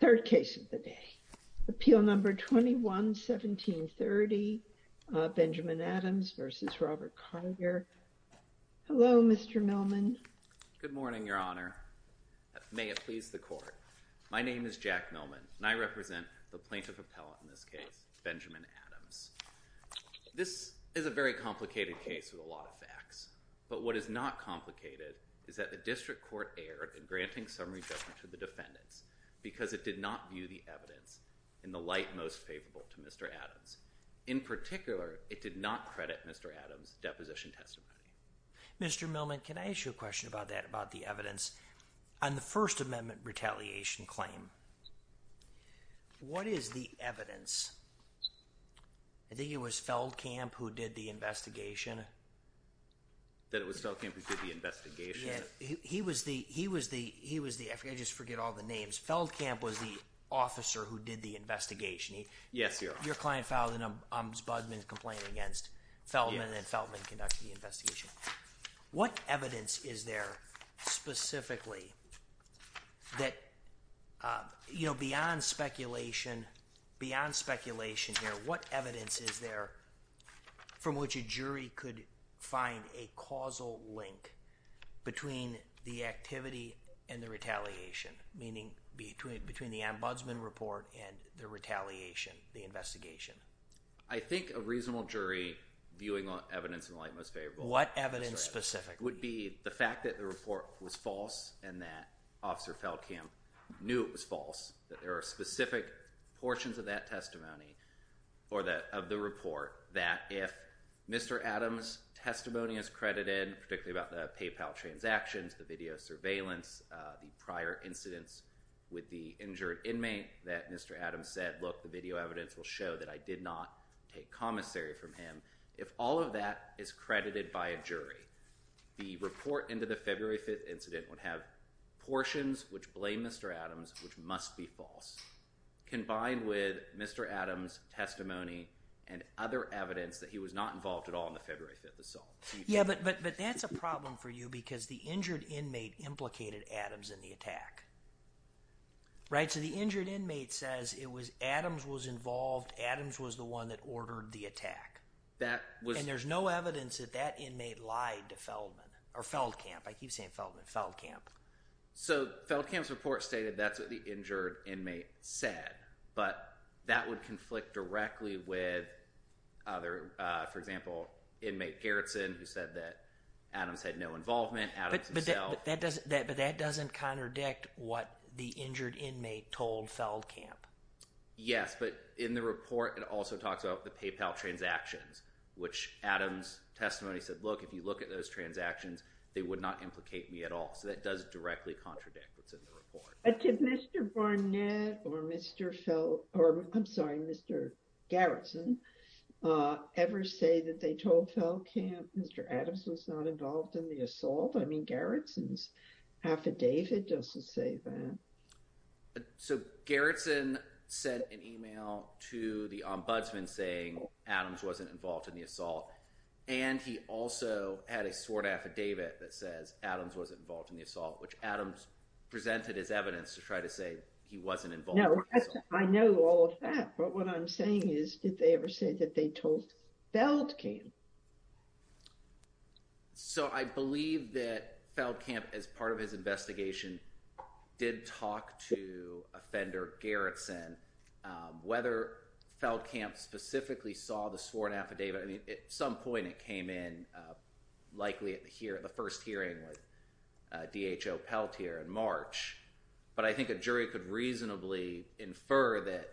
Third case of the day. Appeal number 21-1730, Benjamin Adams v. Robert Carter. Hello, Mr. Millman. Good morning, your honor. May it please the court. My name is Jack Millman, and I represent the plaintiff appellate in this case, Benjamin Adams. This is a very complicated case with a lot of facts, but what is not complicated is that the district court erred in granting summary judgment to the defendants because it did not view the evidence in the light most favorable to Mr. Adams. In particular, it did not credit Mr. Adams' deposition testimony. Mr. Millman, can I ask you a question about that, about the evidence on the First Amendment retaliation claim? What is the evidence? I think it was Feldkamp who did the investigation. That it was Feldkamp who did the investigation? Yeah, he was the, he was the, he was the, I forget, I just forget all the names. Feldkamp was the officer who did the investigation. Yes, your honor. Your client filed an ombudsman complaint against Feldman, and Feldman conducted the investigation. What evidence is there specifically that, you know, beyond speculation, beyond speculation here, what evidence is there from which a jury could find a causal link between the activity and the retaliation, meaning between, between the ombudsman report and the retaliation, the investigation? I think a reasonable jury viewing evidence in the light most favorable. What evidence specifically? Would be the fact that the report was false and that Feldkamp knew it was false, that there are specific portions of that testimony for the, of the report, that if Mr. Adams' testimony is credited, particularly about the PayPal transactions, the video surveillance, the prior incidents with the injured inmate, that Mr. Adams said, look, the video evidence will show that I did not take commissary from him. If all of that is credited by a jury, the report into the February 5th incident would have portions which blame Mr. Adams, which must be false, combined with Mr. Adams' testimony and other evidence that he was not involved at all in the February 5th assault. Yeah, but, but, but that's a problem for you because the injured inmate implicated Adams in the attack, right? So the injured inmate says it was Adams was involved, Adams was the one that ordered the attack. That was, and there's no evidence that that inmate lied to Feldman, or Feldkamp, I keep saying Feldman, Feldkamp. So Feldkamp's report stated that's what the injured inmate said, but that would conflict directly with other, for example, inmate Gerritsen, who said that Adams had no involvement, Adams himself. But that doesn't, that, but that doesn't contradict what the injured which Adams' testimony said, look, if you look at those transactions, they would not implicate me at all. So that does directly contradict what's in the report. But did Mr. Barnett or Mr. Feld, or I'm sorry, Mr. Gerritsen, ever say that they told Feldkamp Mr. Adams was not involved in the assault? I mean, Gerritsen's affidavit doesn't say that. So Gerritsen sent an email to the ombudsman saying Adams wasn't involved in the assault. And he also had a sworn affidavit that says Adams wasn't involved in the assault, which Adams presented as evidence to try to say he wasn't involved. No, I know all of that. But what I'm saying is, did they ever say that they told Feldkamp? So I believe that Feldkamp, as part of his investigation, did talk to offender Gerritsen, whether Feldkamp specifically saw the sworn affidavit. I mean, at some point it came in, likely at the first hearing with DHO Peltier in March. But I think a jury could reasonably infer that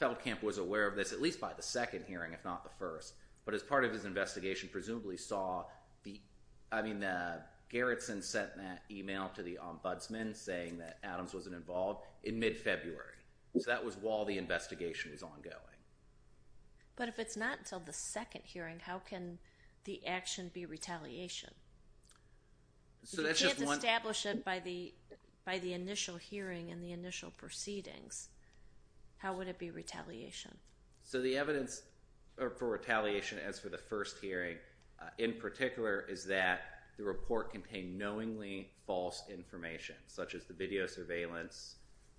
Feldkamp was aware of this, at least by the second hearing, if not the first. But as part of his investigation, presumably saw the, I mean, Gerritsen sent that email to the ombudsman saying that Adams wasn't involved in mid-February. So that was while the investigation was ongoing. But if it's not until the second hearing, how can the action be retaliation? So you can't establish it by the initial hearing and the initial proceedings. How would it be retaliation? So the evidence for retaliation as for the first hearing, in particular, is that the report contained knowingly false information, such as the video surveillance,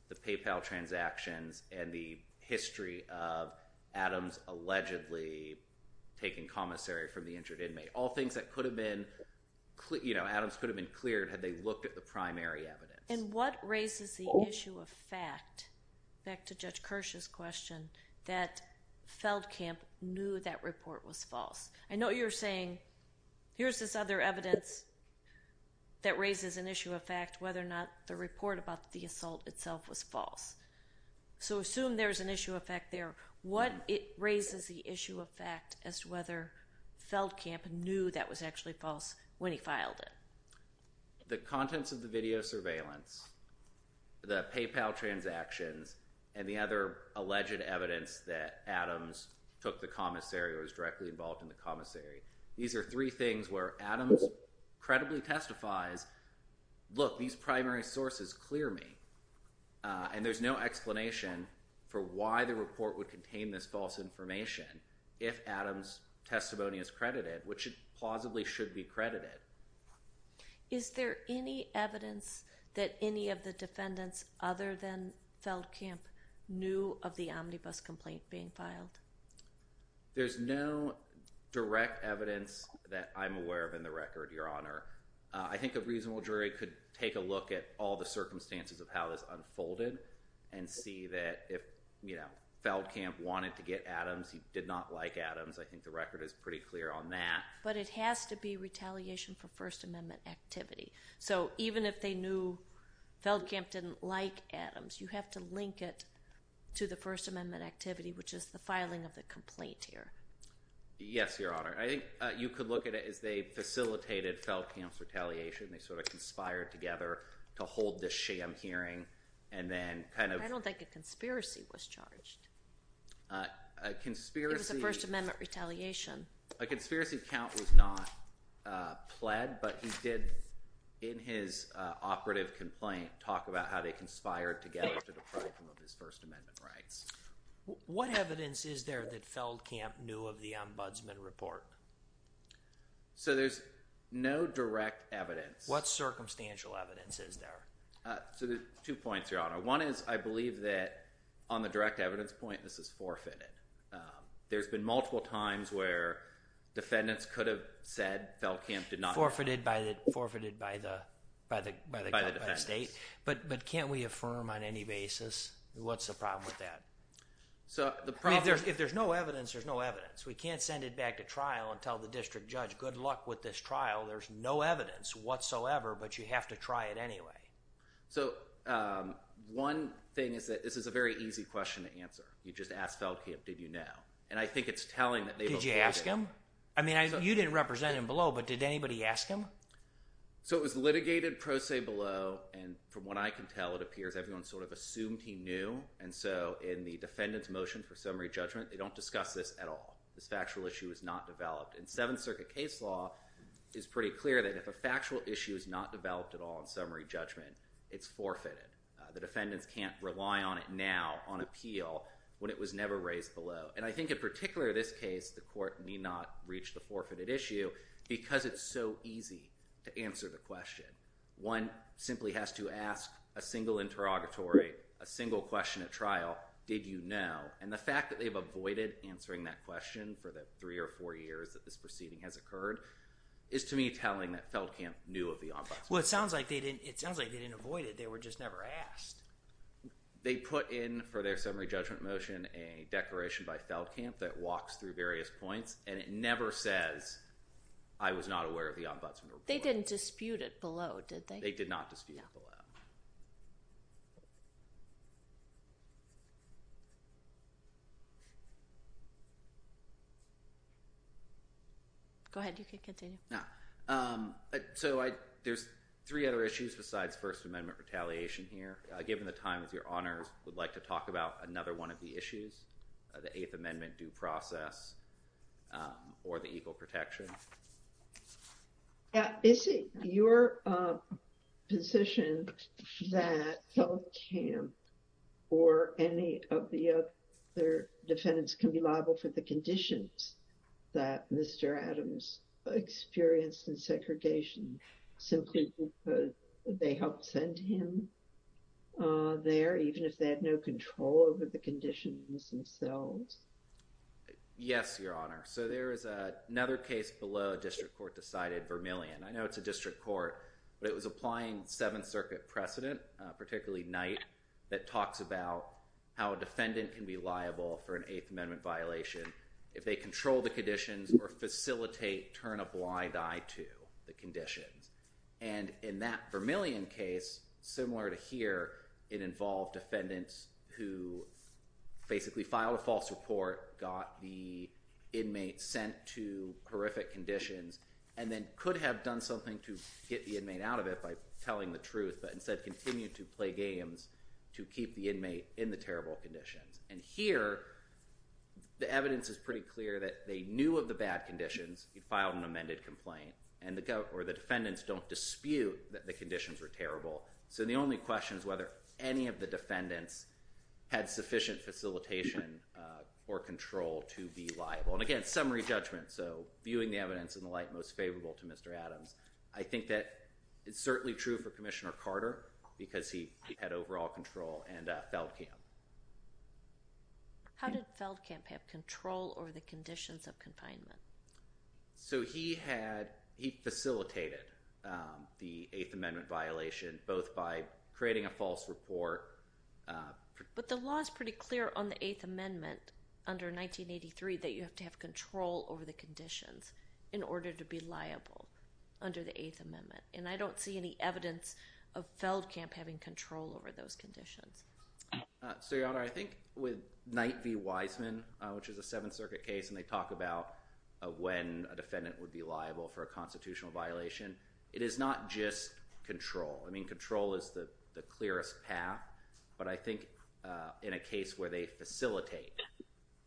the PayPal transactions, and the history of Adams allegedly taking commissary from the injured inmate. All things that could have been, you know, Adams could have been cleared had they looked at the primary evidence. And what raises the issue of fact, back to Judge Kirsch's question, that Feldkamp knew that report was false? I know you're saying, here's this other evidence that raises an issue of fact, whether or not the report about the assault itself was false. So assume there's an issue of fact there. What raises the issue of fact as to whether Feldkamp knew that was actually false when he filed it? The contents of the video surveillance, the PayPal transactions, and the other alleged evidence that Adams took the commissary or was directly involved in the commissary, these are three things where Adams credibly testifies, look, these primary sources clear me. And there's no explanation for why the report would contain this false information if Adams' testimony is credited, which it plausibly should be credited. Is there any evidence that any of the defendants other than Feldkamp knew of the omnibus complaint being filed? There's no direct evidence that I'm aware of in the record, Your Honor. I think a reasonable jury could take a look at all the circumstances of how this unfolded and see that if, you know, Feldkamp wanted to get Adams, he did not like Adams. I think the record is pretty clear on that. But it has to be retaliation for First Amendment activity. So even if they knew Feldkamp didn't like Adams, you have to link it to the First Amendment activity, which is the filing of the complaint here. Yes, Your Honor. I think you could look at it as they facilitated Feldkamp's retaliation. They sort of conspired together to hold this sham hearing and then kind of— I don't think a conspiracy was charged. A conspiracy— It was a First Amendment retaliation. A conspiracy count was not pled, but he did, in his operative complaint, talk about how they conspired together to deprive him of his First Amendment rights. What evidence is there that Feldkamp knew of the ombudsman report? So there's no direct evidence. What circumstantial evidence is there? So there's two points, Your Honor. One is I believe that on the direct evidence point, this is forfeited. There's been multiple times where defendants could have said Feldkamp did not— Forfeited by the— Forfeited by the— By the defendants. By the state. But can't we affirm on any basis what's the problem with that? So the problem— If there's no evidence, there's no evidence. We can't send it back to trial and tell the district judge, good luck with this trial. There's no evidence whatsoever, but you have to try it anyway. So one thing is that this is a very easy question to answer. You just ask Feldkamp, did you know? And I think it's telling that they— Did you ask him? I mean, you didn't represent him below, but did anybody ask him? So it was litigated pro se below, and from what I can tell, it appears everyone sort of assumed he knew. And so in the defendant's motion for summary judgment, they don't discuss this at all. This factual issue is not developed. And Seventh Circuit case law is pretty clear that if a factual issue is not developed at all in summary judgment, it's forfeited. The defendants can't rely on it now on appeal when it was never raised below. And I think in particular this case, the court may not reach the forfeited issue because it's so easy to answer the question. One simply has to ask a single interrogatory, a single question at trial, did you know? And the fact that they've avoided answering that question for three or four years that this proceeding has occurred is to me telling that Feldkamp knew of the ombudsman report. Well, it sounds like they didn't avoid it. They were just never asked. They put in for their summary judgment motion a declaration by Feldkamp that walks through various points, and it never says, I was not aware of the ombudsman report. They didn't dispute it below, did they? They did not dispute it below. Go ahead. You can continue. So there's three other issues besides First Amendment retaliation here. Given the time, if your honors would like to talk about another one of the issues, the Eighth Amendment due process or the equal protection. Is it your position that Feldkamp or any of the other defendants can be liable for the conditions that Mr. Adams experienced in segregation simply because they helped send him there even if they had no control over the conditions themselves? Yes, your honor. So there is another case below a district court decided, Vermillion. I know it's a district court, but it was applying Seventh Circuit precedent, particularly Knight, that if they control the conditions or facilitate, turn a blind eye to the conditions. And in that Vermillion case, similar to here, it involved defendants who basically filed a false report, got the inmate sent to horrific conditions, and then could have done something to get the inmate out of it by telling the truth, but instead continued to play games to keep the inmate in the terrible conditions. And here, the evidence is pretty clear that they knew of the bad conditions. He filed an amended complaint. And the defendants don't dispute that the conditions were terrible. So the only question is whether any of the defendants had sufficient facilitation or control to be liable. And again, summary judgment. So viewing the evidence in the light most favorable to Mr. Adams, I think that it's certainly true for Commissioner Carter because he had overall control and Feldkamp. How did Feldkamp have control over the conditions of confinement? So he facilitated the Eighth Amendment violation both by creating a false report. But the law is pretty clear on the Eighth Amendment under 1983 that you have to have control over the conditions in order to be liable under the Eighth Amendment. And I don't see any Feldkamp having control over those conditions. So, Your Honor, I think with Knight v. Wiseman, which is a Seventh Circuit case, and they talk about when a defendant would be liable for a constitutional violation, it is not just control. I mean, control is the clearest path. But I think in a case where they facilitate,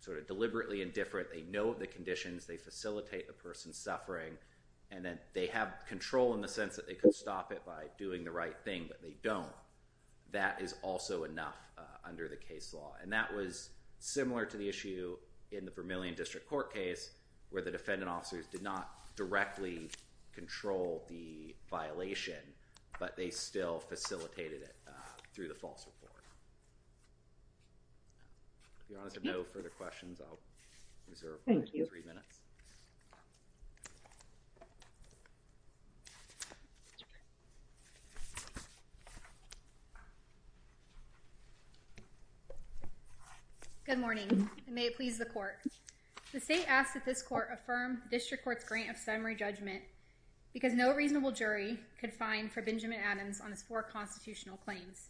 sort of deliberately and different, they know the conditions, they facilitate the person's suffering, and then they have control in the sense that they could stop it by doing the right thing, but they don't, that is also enough under the case law. And that was similar to the issue in the Vermillion District Court case where the defendant officers did not directly control the violation, but they still facilitated it through the false report. If Your Honor has no further questions, I'll reserve three minutes. Good morning, and may it please the Court. The State asked that this Court affirm the District Court's grant of summary judgment because no reasonable jury could find for Benjamin Adams on his four constitutional claims.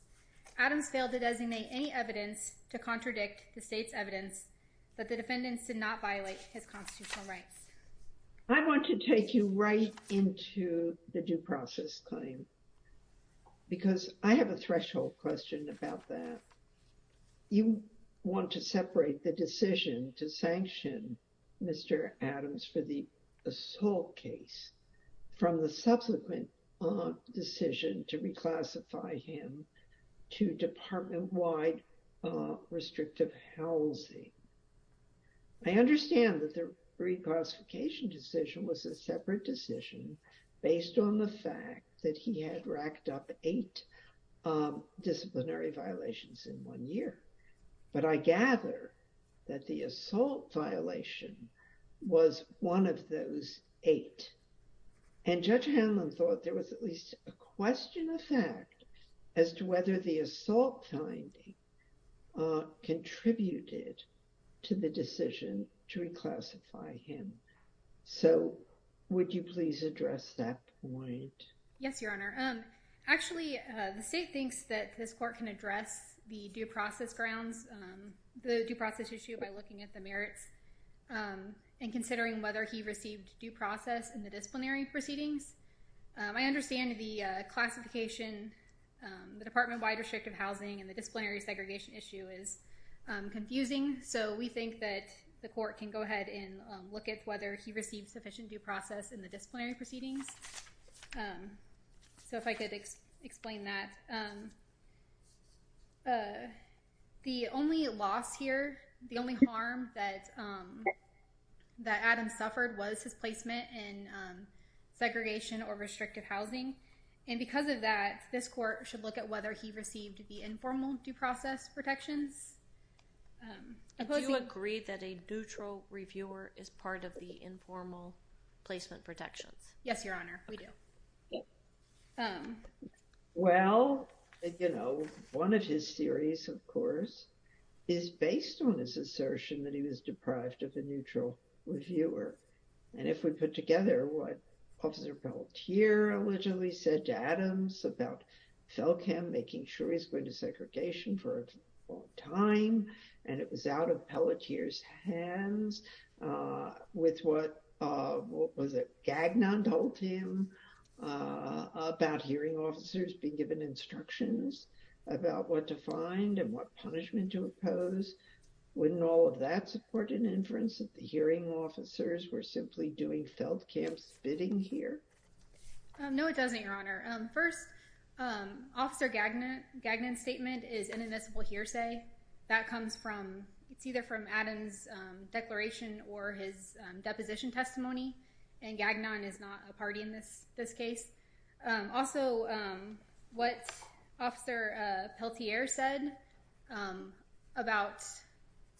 Adams failed to designate any evidence to contradict the State's evidence, but the defendants did not violate his constitutional rights. I want to take you right into the due process claim because I have a threshold question about that. You want to separate the decision to sanction Mr. Adams for the assault case from the subsequent decision to reclassify him to department-wide restrictive housing. I understand that the reclassification decision was a separate decision based on the fact that he had racked up eight disciplinary violations in one year, but I gather that the assault violation was one of those eight, and Judge Hanlon thought there was at least a question of fact as to whether the assault finding contributed to the decision to reclassify him. So, would you please address that point? Yes, Your Honor. Actually, the State thinks that this Court can address the due process grounds, the due process issue by looking at merits and considering whether he received due process in the disciplinary proceedings. I understand the classification, the department-wide restrictive housing, and the disciplinary segregation issue is confusing, so we think that the Court can go ahead and look at whether he received sufficient due process in the disciplinary proceedings. So, if I could explain that. The only loss here, the only harm that Adam suffered was his placement in segregation or restrictive housing, and because of that, this Court should look at whether he received the informal due process protections. Do you agree that a neutral reviewer is part of the informal placement protections? Yes, Your Honor, we do. Well, you know, one of his theories, of course, is based on his assertion that he was deprived of a neutral reviewer, and if we put together what Officer Pelletier allegedly said to Adams about Felkham making sure he's going to segregation for a long time, and it was out of Pelletier's instructions, with what, what was it, Gagnon told him about hearing officers being given instructions about what to find and what punishment to impose, wouldn't all of that support an inference that the hearing officers were simply doing Felkham's bidding here? No, it doesn't, Your Honor. First, Officer Gagnon's statement is inadmissible hearsay. That comes from, it's either from or his deposition testimony, and Gagnon is not a party in this case. Also, what Officer Pelletier said about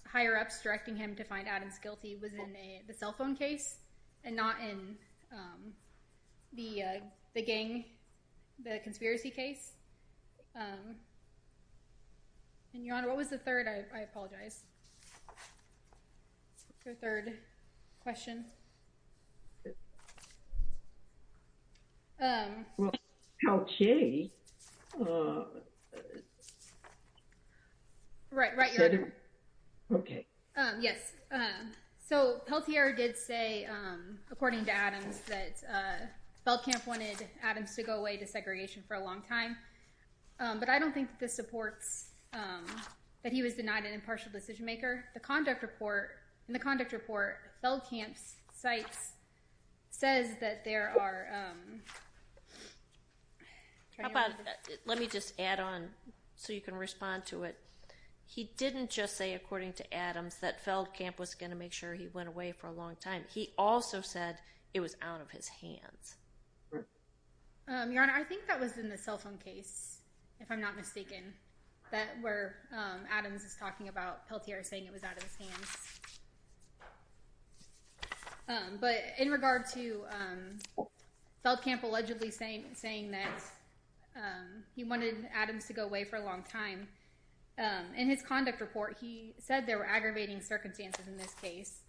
higher-ups directing him to find Adams guilty was in the cell phone case and not in the gang, the conspiracy case, and Your Honor, what was the third? I apologize. Your third question? Well, Pelletier... Right, right, Your Honor. Okay. Yes, so Pelletier did say, according to Adams, that Felkham wanted Adams to go away to segregation for a long time, but I don't think this supports that he was denied an impartial decision maker. The conduct report, in the conduct report, Felkham's cites, says that there are... How about, let me just add on so you can respond to it. He didn't just say, according to Adams, that Felkham was going to make sure he went away for a long time. He also said it was out of his where Adams is talking about Pelletier saying it was out of his hands. But in regard to Felkham allegedly saying that he wanted Adams to go away for a long time, in his conduct report, he said there were aggravating circumstances in this case.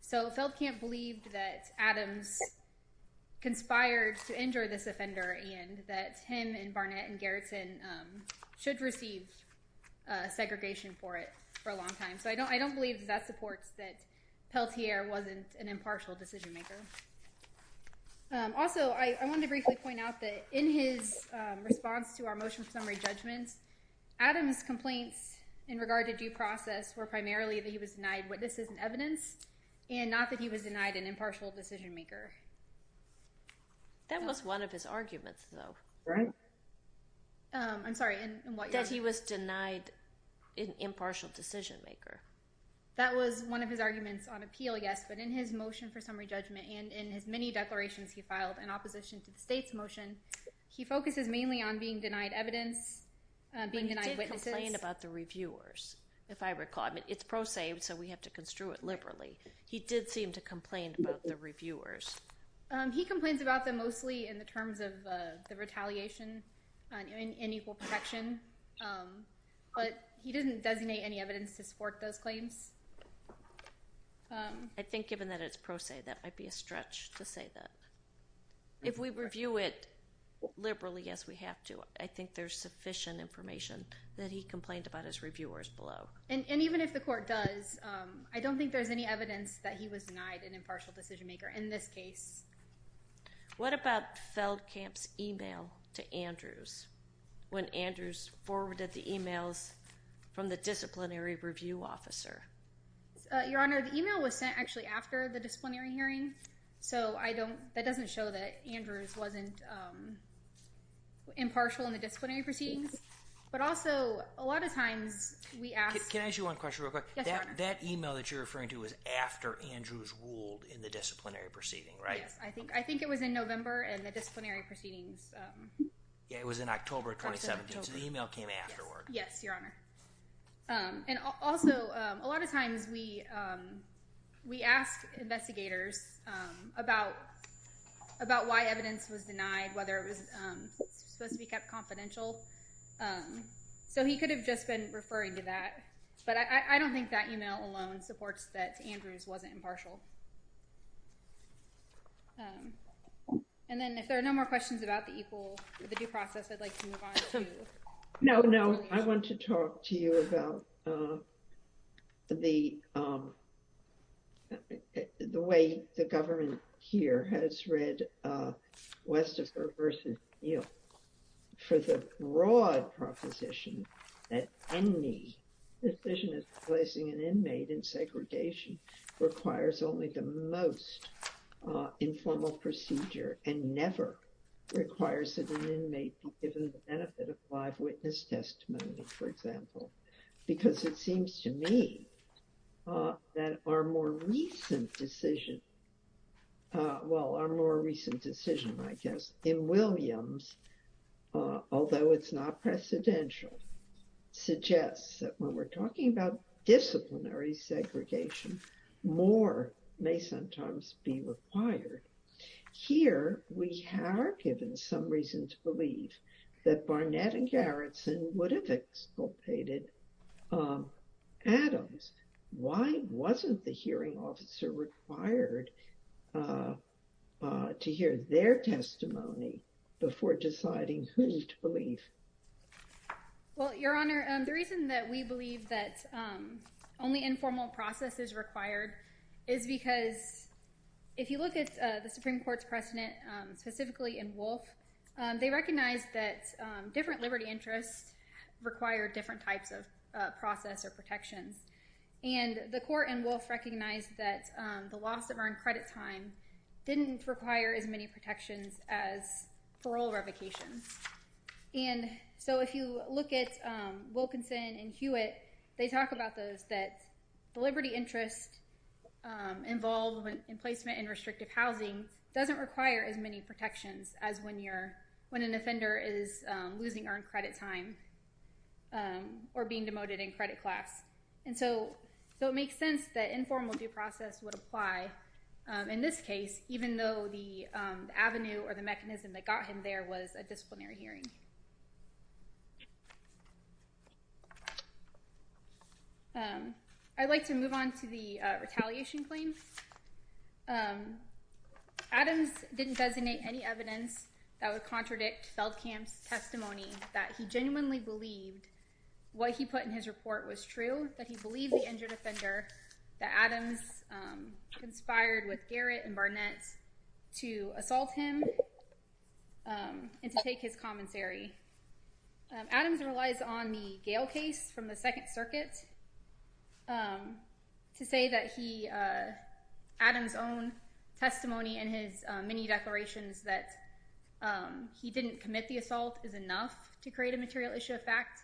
So Felkham believed that Adams conspired to injure this offender and that him and Barnett and segregation for it for a long time. So I don't believe that supports that Pelletier wasn't an impartial decision maker. Also, I wanted to briefly point out that in his response to our motion summary judgments, Adams' complaints in regard to due process were primarily that he was denied what this is an evidence and not that he was denied an impartial decision maker. That was one of his arguments, though. I'm sorry, in what? That he was denied an impartial decision maker. That was one of his arguments on appeal, yes. But in his motion for summary judgment and in his many declarations he filed in opposition to the state's motion, he focuses mainly on being denied evidence, being denied witnesses. He did complain about the reviewers, if I recall. I mean, it's pro se, so we have to construe it liberally. He did seem to complain about the reviewers. He complains about them mostly in the terms of the retaliation and equal protection, but he didn't designate any evidence to support those claims. I think given that it's pro se, that might be a stretch to say that. If we review it liberally, yes, we have to. I think there's sufficient information that he complained about his reviewers below. And even if the court does, I don't think there's any evidence that he was denied an evidence. What about Feldkamp's email to Andrews when Andrews forwarded the emails from the disciplinary review officer? Your Honor, the email was sent actually after the disciplinary hearing, so that doesn't show that Andrews wasn't impartial in the disciplinary proceedings. But also, a lot of times we ask— Can I ask you one question real quick? That email that you're referring to was after Andrews ruled in the disciplinary proceeding, right? Yes, I think it was in November in the disciplinary proceedings. Yeah, it was in October 2017, so the email came afterward. Yes, Your Honor. And also, a lot of times we ask investigators about why evidence was denied, whether it was supposed to be kept confidential. So he could have just been referring to that, but I don't think that email alone supports that Andrews wasn't impartial. And then if there are no more questions about the due process, I'd like to move on to— No, no. I want to talk to you about the way the government here has read Westerfer v. Neal. For the broad proposition that any decision of placing an inmate in segregation requires only the most informal procedure, and never requires that an inmate be given the benefit of live witness testimony, for example. Because it seems to me that our more recent decision— well, our more recent decision, I guess, in Williams, although it's not precedential, suggests that when we're talking about disciplinary segregation, more may sometimes be required. Here, we are given some reason to believe that Barnett and Garretson would have exculpated Adams. Why wasn't the hearing officer required to hear their testimony before deciding who to believe? Your Honor, the reason that we believe that only informal process is required is because if you look at the Supreme Court's precedent, specifically in Wolfe, they recognized that different liberty interests require different types of process or protections. And the court in Wolfe recognized that the loss of earned credit time didn't require as many protections as parole revocations. And so if you look at Wilkinson and Hewitt, they talk about those that the liberty interest involved in placement in restrictive housing doesn't require as many protections as when an offender is losing earned credit time or being demoted in credit class. And so it makes sense that informal due process would apply in this case, even though the avenue or the mechanism that got him there was a disciplinary hearing. I'd like to move on to the retaliation claim. Adams didn't designate any evidence that would contradict Feldkamp's testimony that he genuinely believed what he put in his report was true, that he believed the injured offender, that Adams conspired with Garrett and Barnett to assault him, and to take his commissary. Adams relies on the Gale case from the Second Circuit to say that Adams' own testimony and his many declarations that he didn't commit the assault is enough to create a material issue of fact.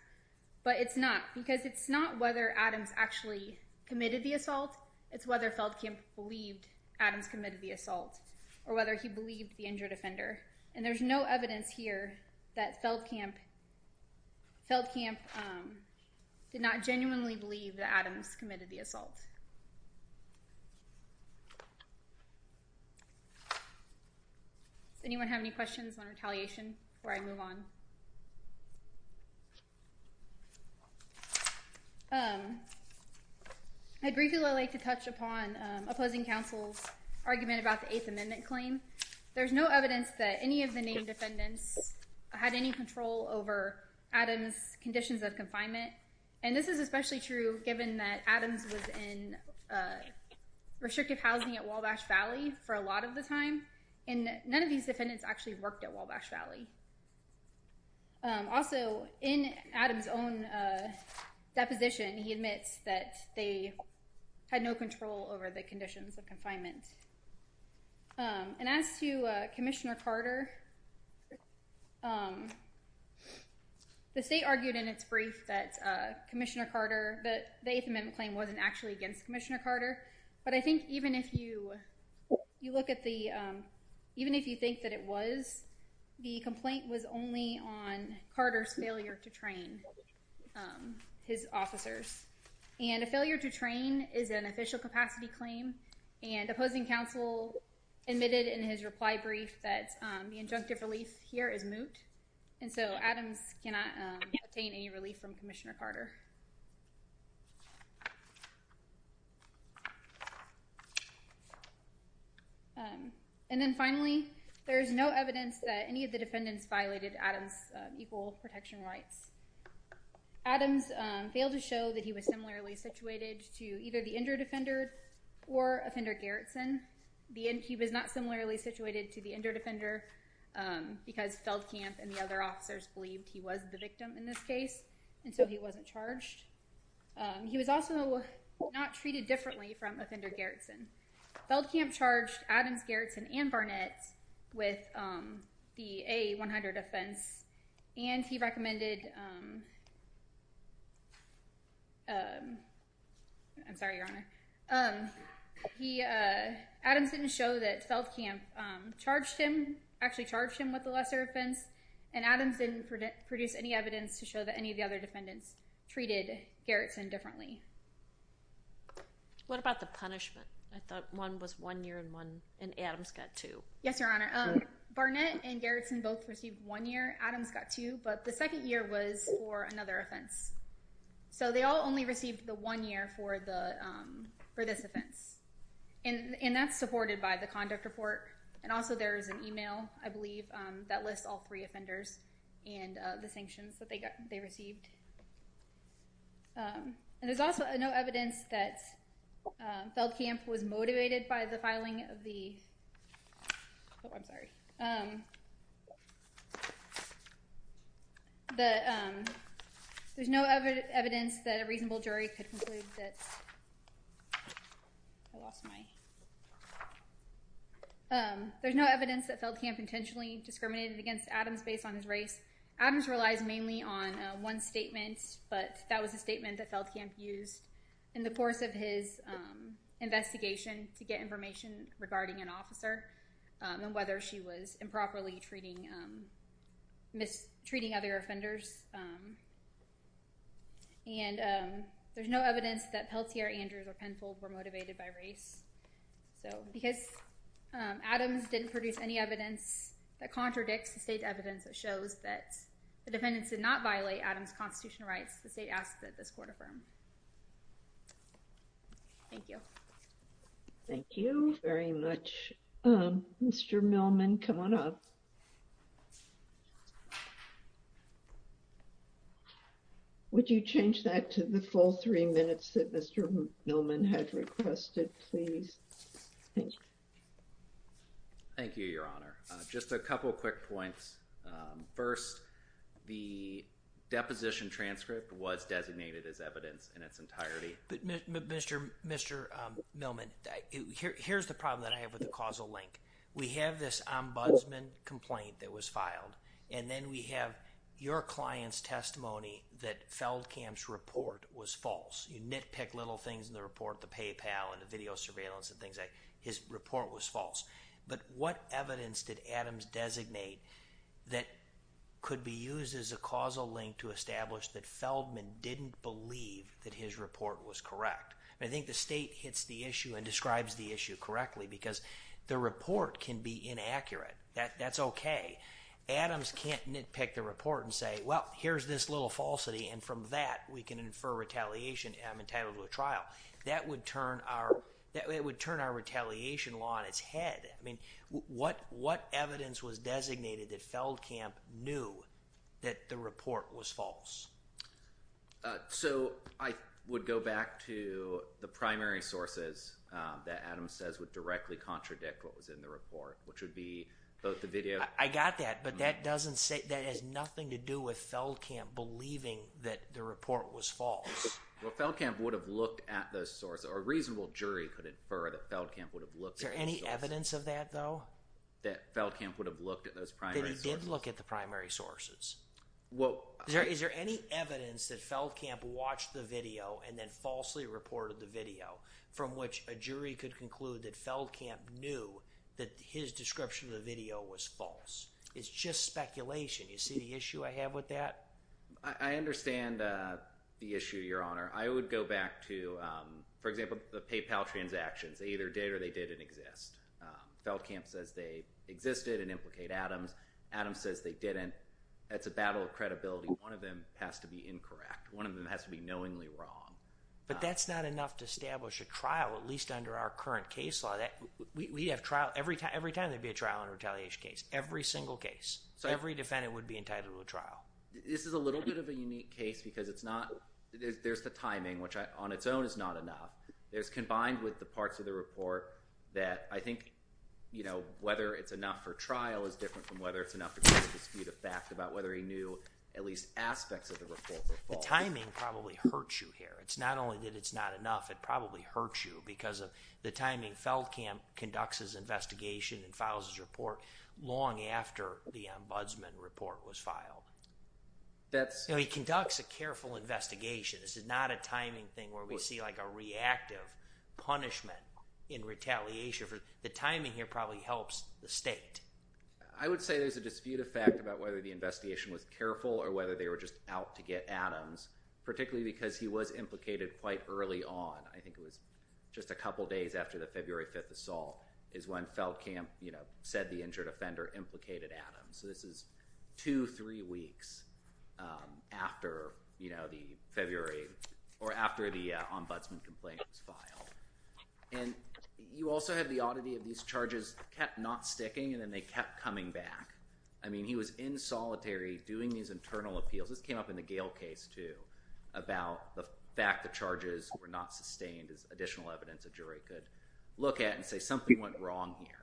But it's not, because it's not whether Adams actually committed the assault. It's whether Feldkamp believed Adams committed the assault or whether he believed the injured offender. And there's no evidence here that Feldkamp did not genuinely believe that Adams committed the assault. Does anyone have any questions on retaliation before I move on? I'd briefly like to touch upon opposing counsel's argument about the Eighth Amendment claim. There's no evidence that any of the named defendants had any control over Adams' conditions of confinement. And this is especially true given that Adams was in restrictive housing at Wabash Valley for a lot of the time, and none of these defendants actually worked at Wabash Valley. Also, in Adams' own deposition, he admits that they had no control over the conditions of confinement. And as to Commissioner Carter, the state argued in its brief that Commissioner Carter, that the Eighth Amendment claim wasn't actually against Commissioner Carter. But I think even if you look at the, even if you think that it was, the complaint was only on Carter's failure to train his officers. And a failure to train is an official capacity claim. And opposing counsel admitted in his reply brief that the injunctive relief here is moot. And so Adams cannot obtain any relief from Commissioner Carter. And then finally, there is no evidence that any of the defendants violated Adams' equal protection rights. Adams failed to show that he was similarly situated to either the injured offender or offender Gerritsen. He was not similarly situated to the injured offender because Feldkamp and the other officers believed he was the victim in this case. And so he wasn't charged. He was also not treated differently from offender Gerritsen. Feldkamp charged Adams, Gerritsen, and Barnett with the A-100 offense. And he recommended, um, I'm sorry, Your Honor. He, Adams didn't show that Feldkamp charged him, actually charged him with the lesser offense. And Adams didn't produce any evidence to show that any of the other defendants treated Gerritsen differently. What about the punishment? I thought one was one year and Adams got two. Yes, Your Honor. Barnett and Gerritsen both received one year. Adams got two. But the second year was for another offense. So they all only received the one year for the, um, for this offense. And, and that's supported by the conduct report. And also there is an email, I believe, um, that lists all three offenders and, uh, the sanctions that they got, they received. Um, and there's also no evidence that, um, Feldkamp was motivated by the filing of the, oh, I'm sorry. Um, the, um, there's no other evidence that a reasonable jury could conclude that, I lost my, um, there's no evidence that Feldkamp intentionally discriminated against Adams based on his race. Adams relies mainly on one statement, but that was a statement that Feldkamp used in the course of his, um, investigation to get information regarding an officer, and whether she was improperly treating, um, mistreating other offenders. And, um, there's no evidence that Peltier, Andrews, or Penfold were motivated by race. So because, um, Adams didn't produce any evidence that contradicts the state evidence that shows that the defendants did not violate Adams' constitutional rights, the state asked that this court affirm. Thank you. Thank you very much. Mr. Millman, come on up. Would you change that to the full three minutes that Mr. Millman had requested, please? Thank you, Your Honor. Just a couple of quick points. First, the deposition transcript was designated as evidence in its entirety. Mr. Millman, here's the problem that I have with the causal link. We have this ombudsman complaint that was filed, and then we have your client's testimony that Feldkamp's report was false. You nitpick little things in the report, the PayPal and the video surveillance and things like that. His report was false. But what evidence did Adams designate that could be used as a causal link to establish that Feldman didn't believe that his report was correct? I think the state hits the issue and describes the issue correctly, because the report can be inaccurate. That's okay. Adams can't nitpick the report and say, well, here's this little falsity, and from that we can infer retaliation, and I'm entitled to a trial. That would turn our retaliation law on its head. What evidence was designated that Feldkamp knew that the report was false? So, I would go back to the primary sources that Adams says would directly contradict what was in the report, which would be both the video— I got that, but that has nothing to do with Feldkamp believing that the report was false. Well, Feldkamp would have looked at those sources, or a reasonable jury could infer that Feldkamp would have looked at those sources. Is there any evidence of that, though? That Feldkamp would have looked at those primary sources? That he did look at the primary sources. Well— Is there any evidence that Feldkamp watched the video and then falsely reported the video, from which a jury could conclude that Feldkamp knew that his description of the video was false? It's just speculation. You see the issue I have with that? I understand the issue, Your Honor. I would go back to, for example, the PayPal transactions. They either did or they didn't exist. Feldkamp says they existed and implicate Adams. Adams says they didn't. That's a battle of credibility. One of them has to be incorrect. One of them has to be knowingly wrong. But that's not enough to establish a trial, at least under our current case law. Every time there'd be a trial and retaliation case, every single case, every defendant would be entitled to a trial. This is a little bit of a unique case because there's the timing, which on its own is not enough. It's combined with the parts of the report that I think whether it's enough for trial is different from whether it's enough to dispute a fact about whether he knew at least aspects of the report were false. The timing probably hurts you here. It's not only that it's not enough. It probably hurts you because of the timing. Feldkamp conducts his investigation and files his report long after the ombudsman report was filed. He conducts a careful investigation. This is not a timing thing where we see a reactive punishment in retaliation. The timing here probably helps the state. I would say there's a dispute of fact about whether the investigation was careful or whether they were just out to get Adams, particularly because he was implicated quite early on. I think it was just a couple days after the February 5th assault is when Feldkamp said the injured offender implicated Adams. This is two, three weeks after the February or after the ombudsman complaint was filed. And you also have the oddity of these charges kept not sticking and then they kept coming back. I mean, he was in solitary doing these internal appeals. This came up in the Gale case, too, about the fact the charges were not sustained as additional evidence a jury could look at and say something went wrong here.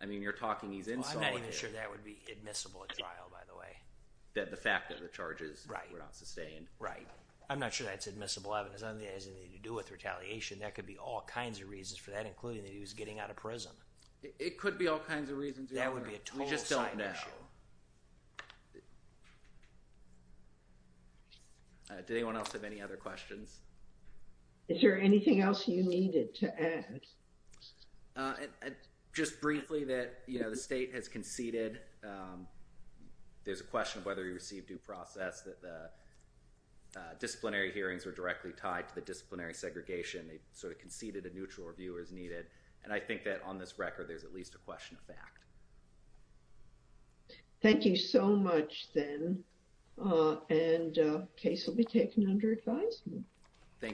I mean, you're talking he's in solitary. Well, I'm not even sure that would be admissible at trial, by the way. The fact that the charges were not sustained. Right. I'm not sure that's admissible evidence. I don't think it has anything to do with retaliation. That could be all kinds of reasons for that, including that he was getting out of prison. It could be all kinds of reasons. That would be a total side issue. We just don't know. Did anyone else have any other questions? Is there anything else you needed to add? Just briefly that, you know, the state has conceded. There's a question of whether he received due process that the disciplinary hearings were directly tied to the disciplinary segregation. They sort of conceded a neutral review as needed. And I think that on this record, there's at least a question of fact. Thank you so much, then. And the case will be taken under advisement. Thank you.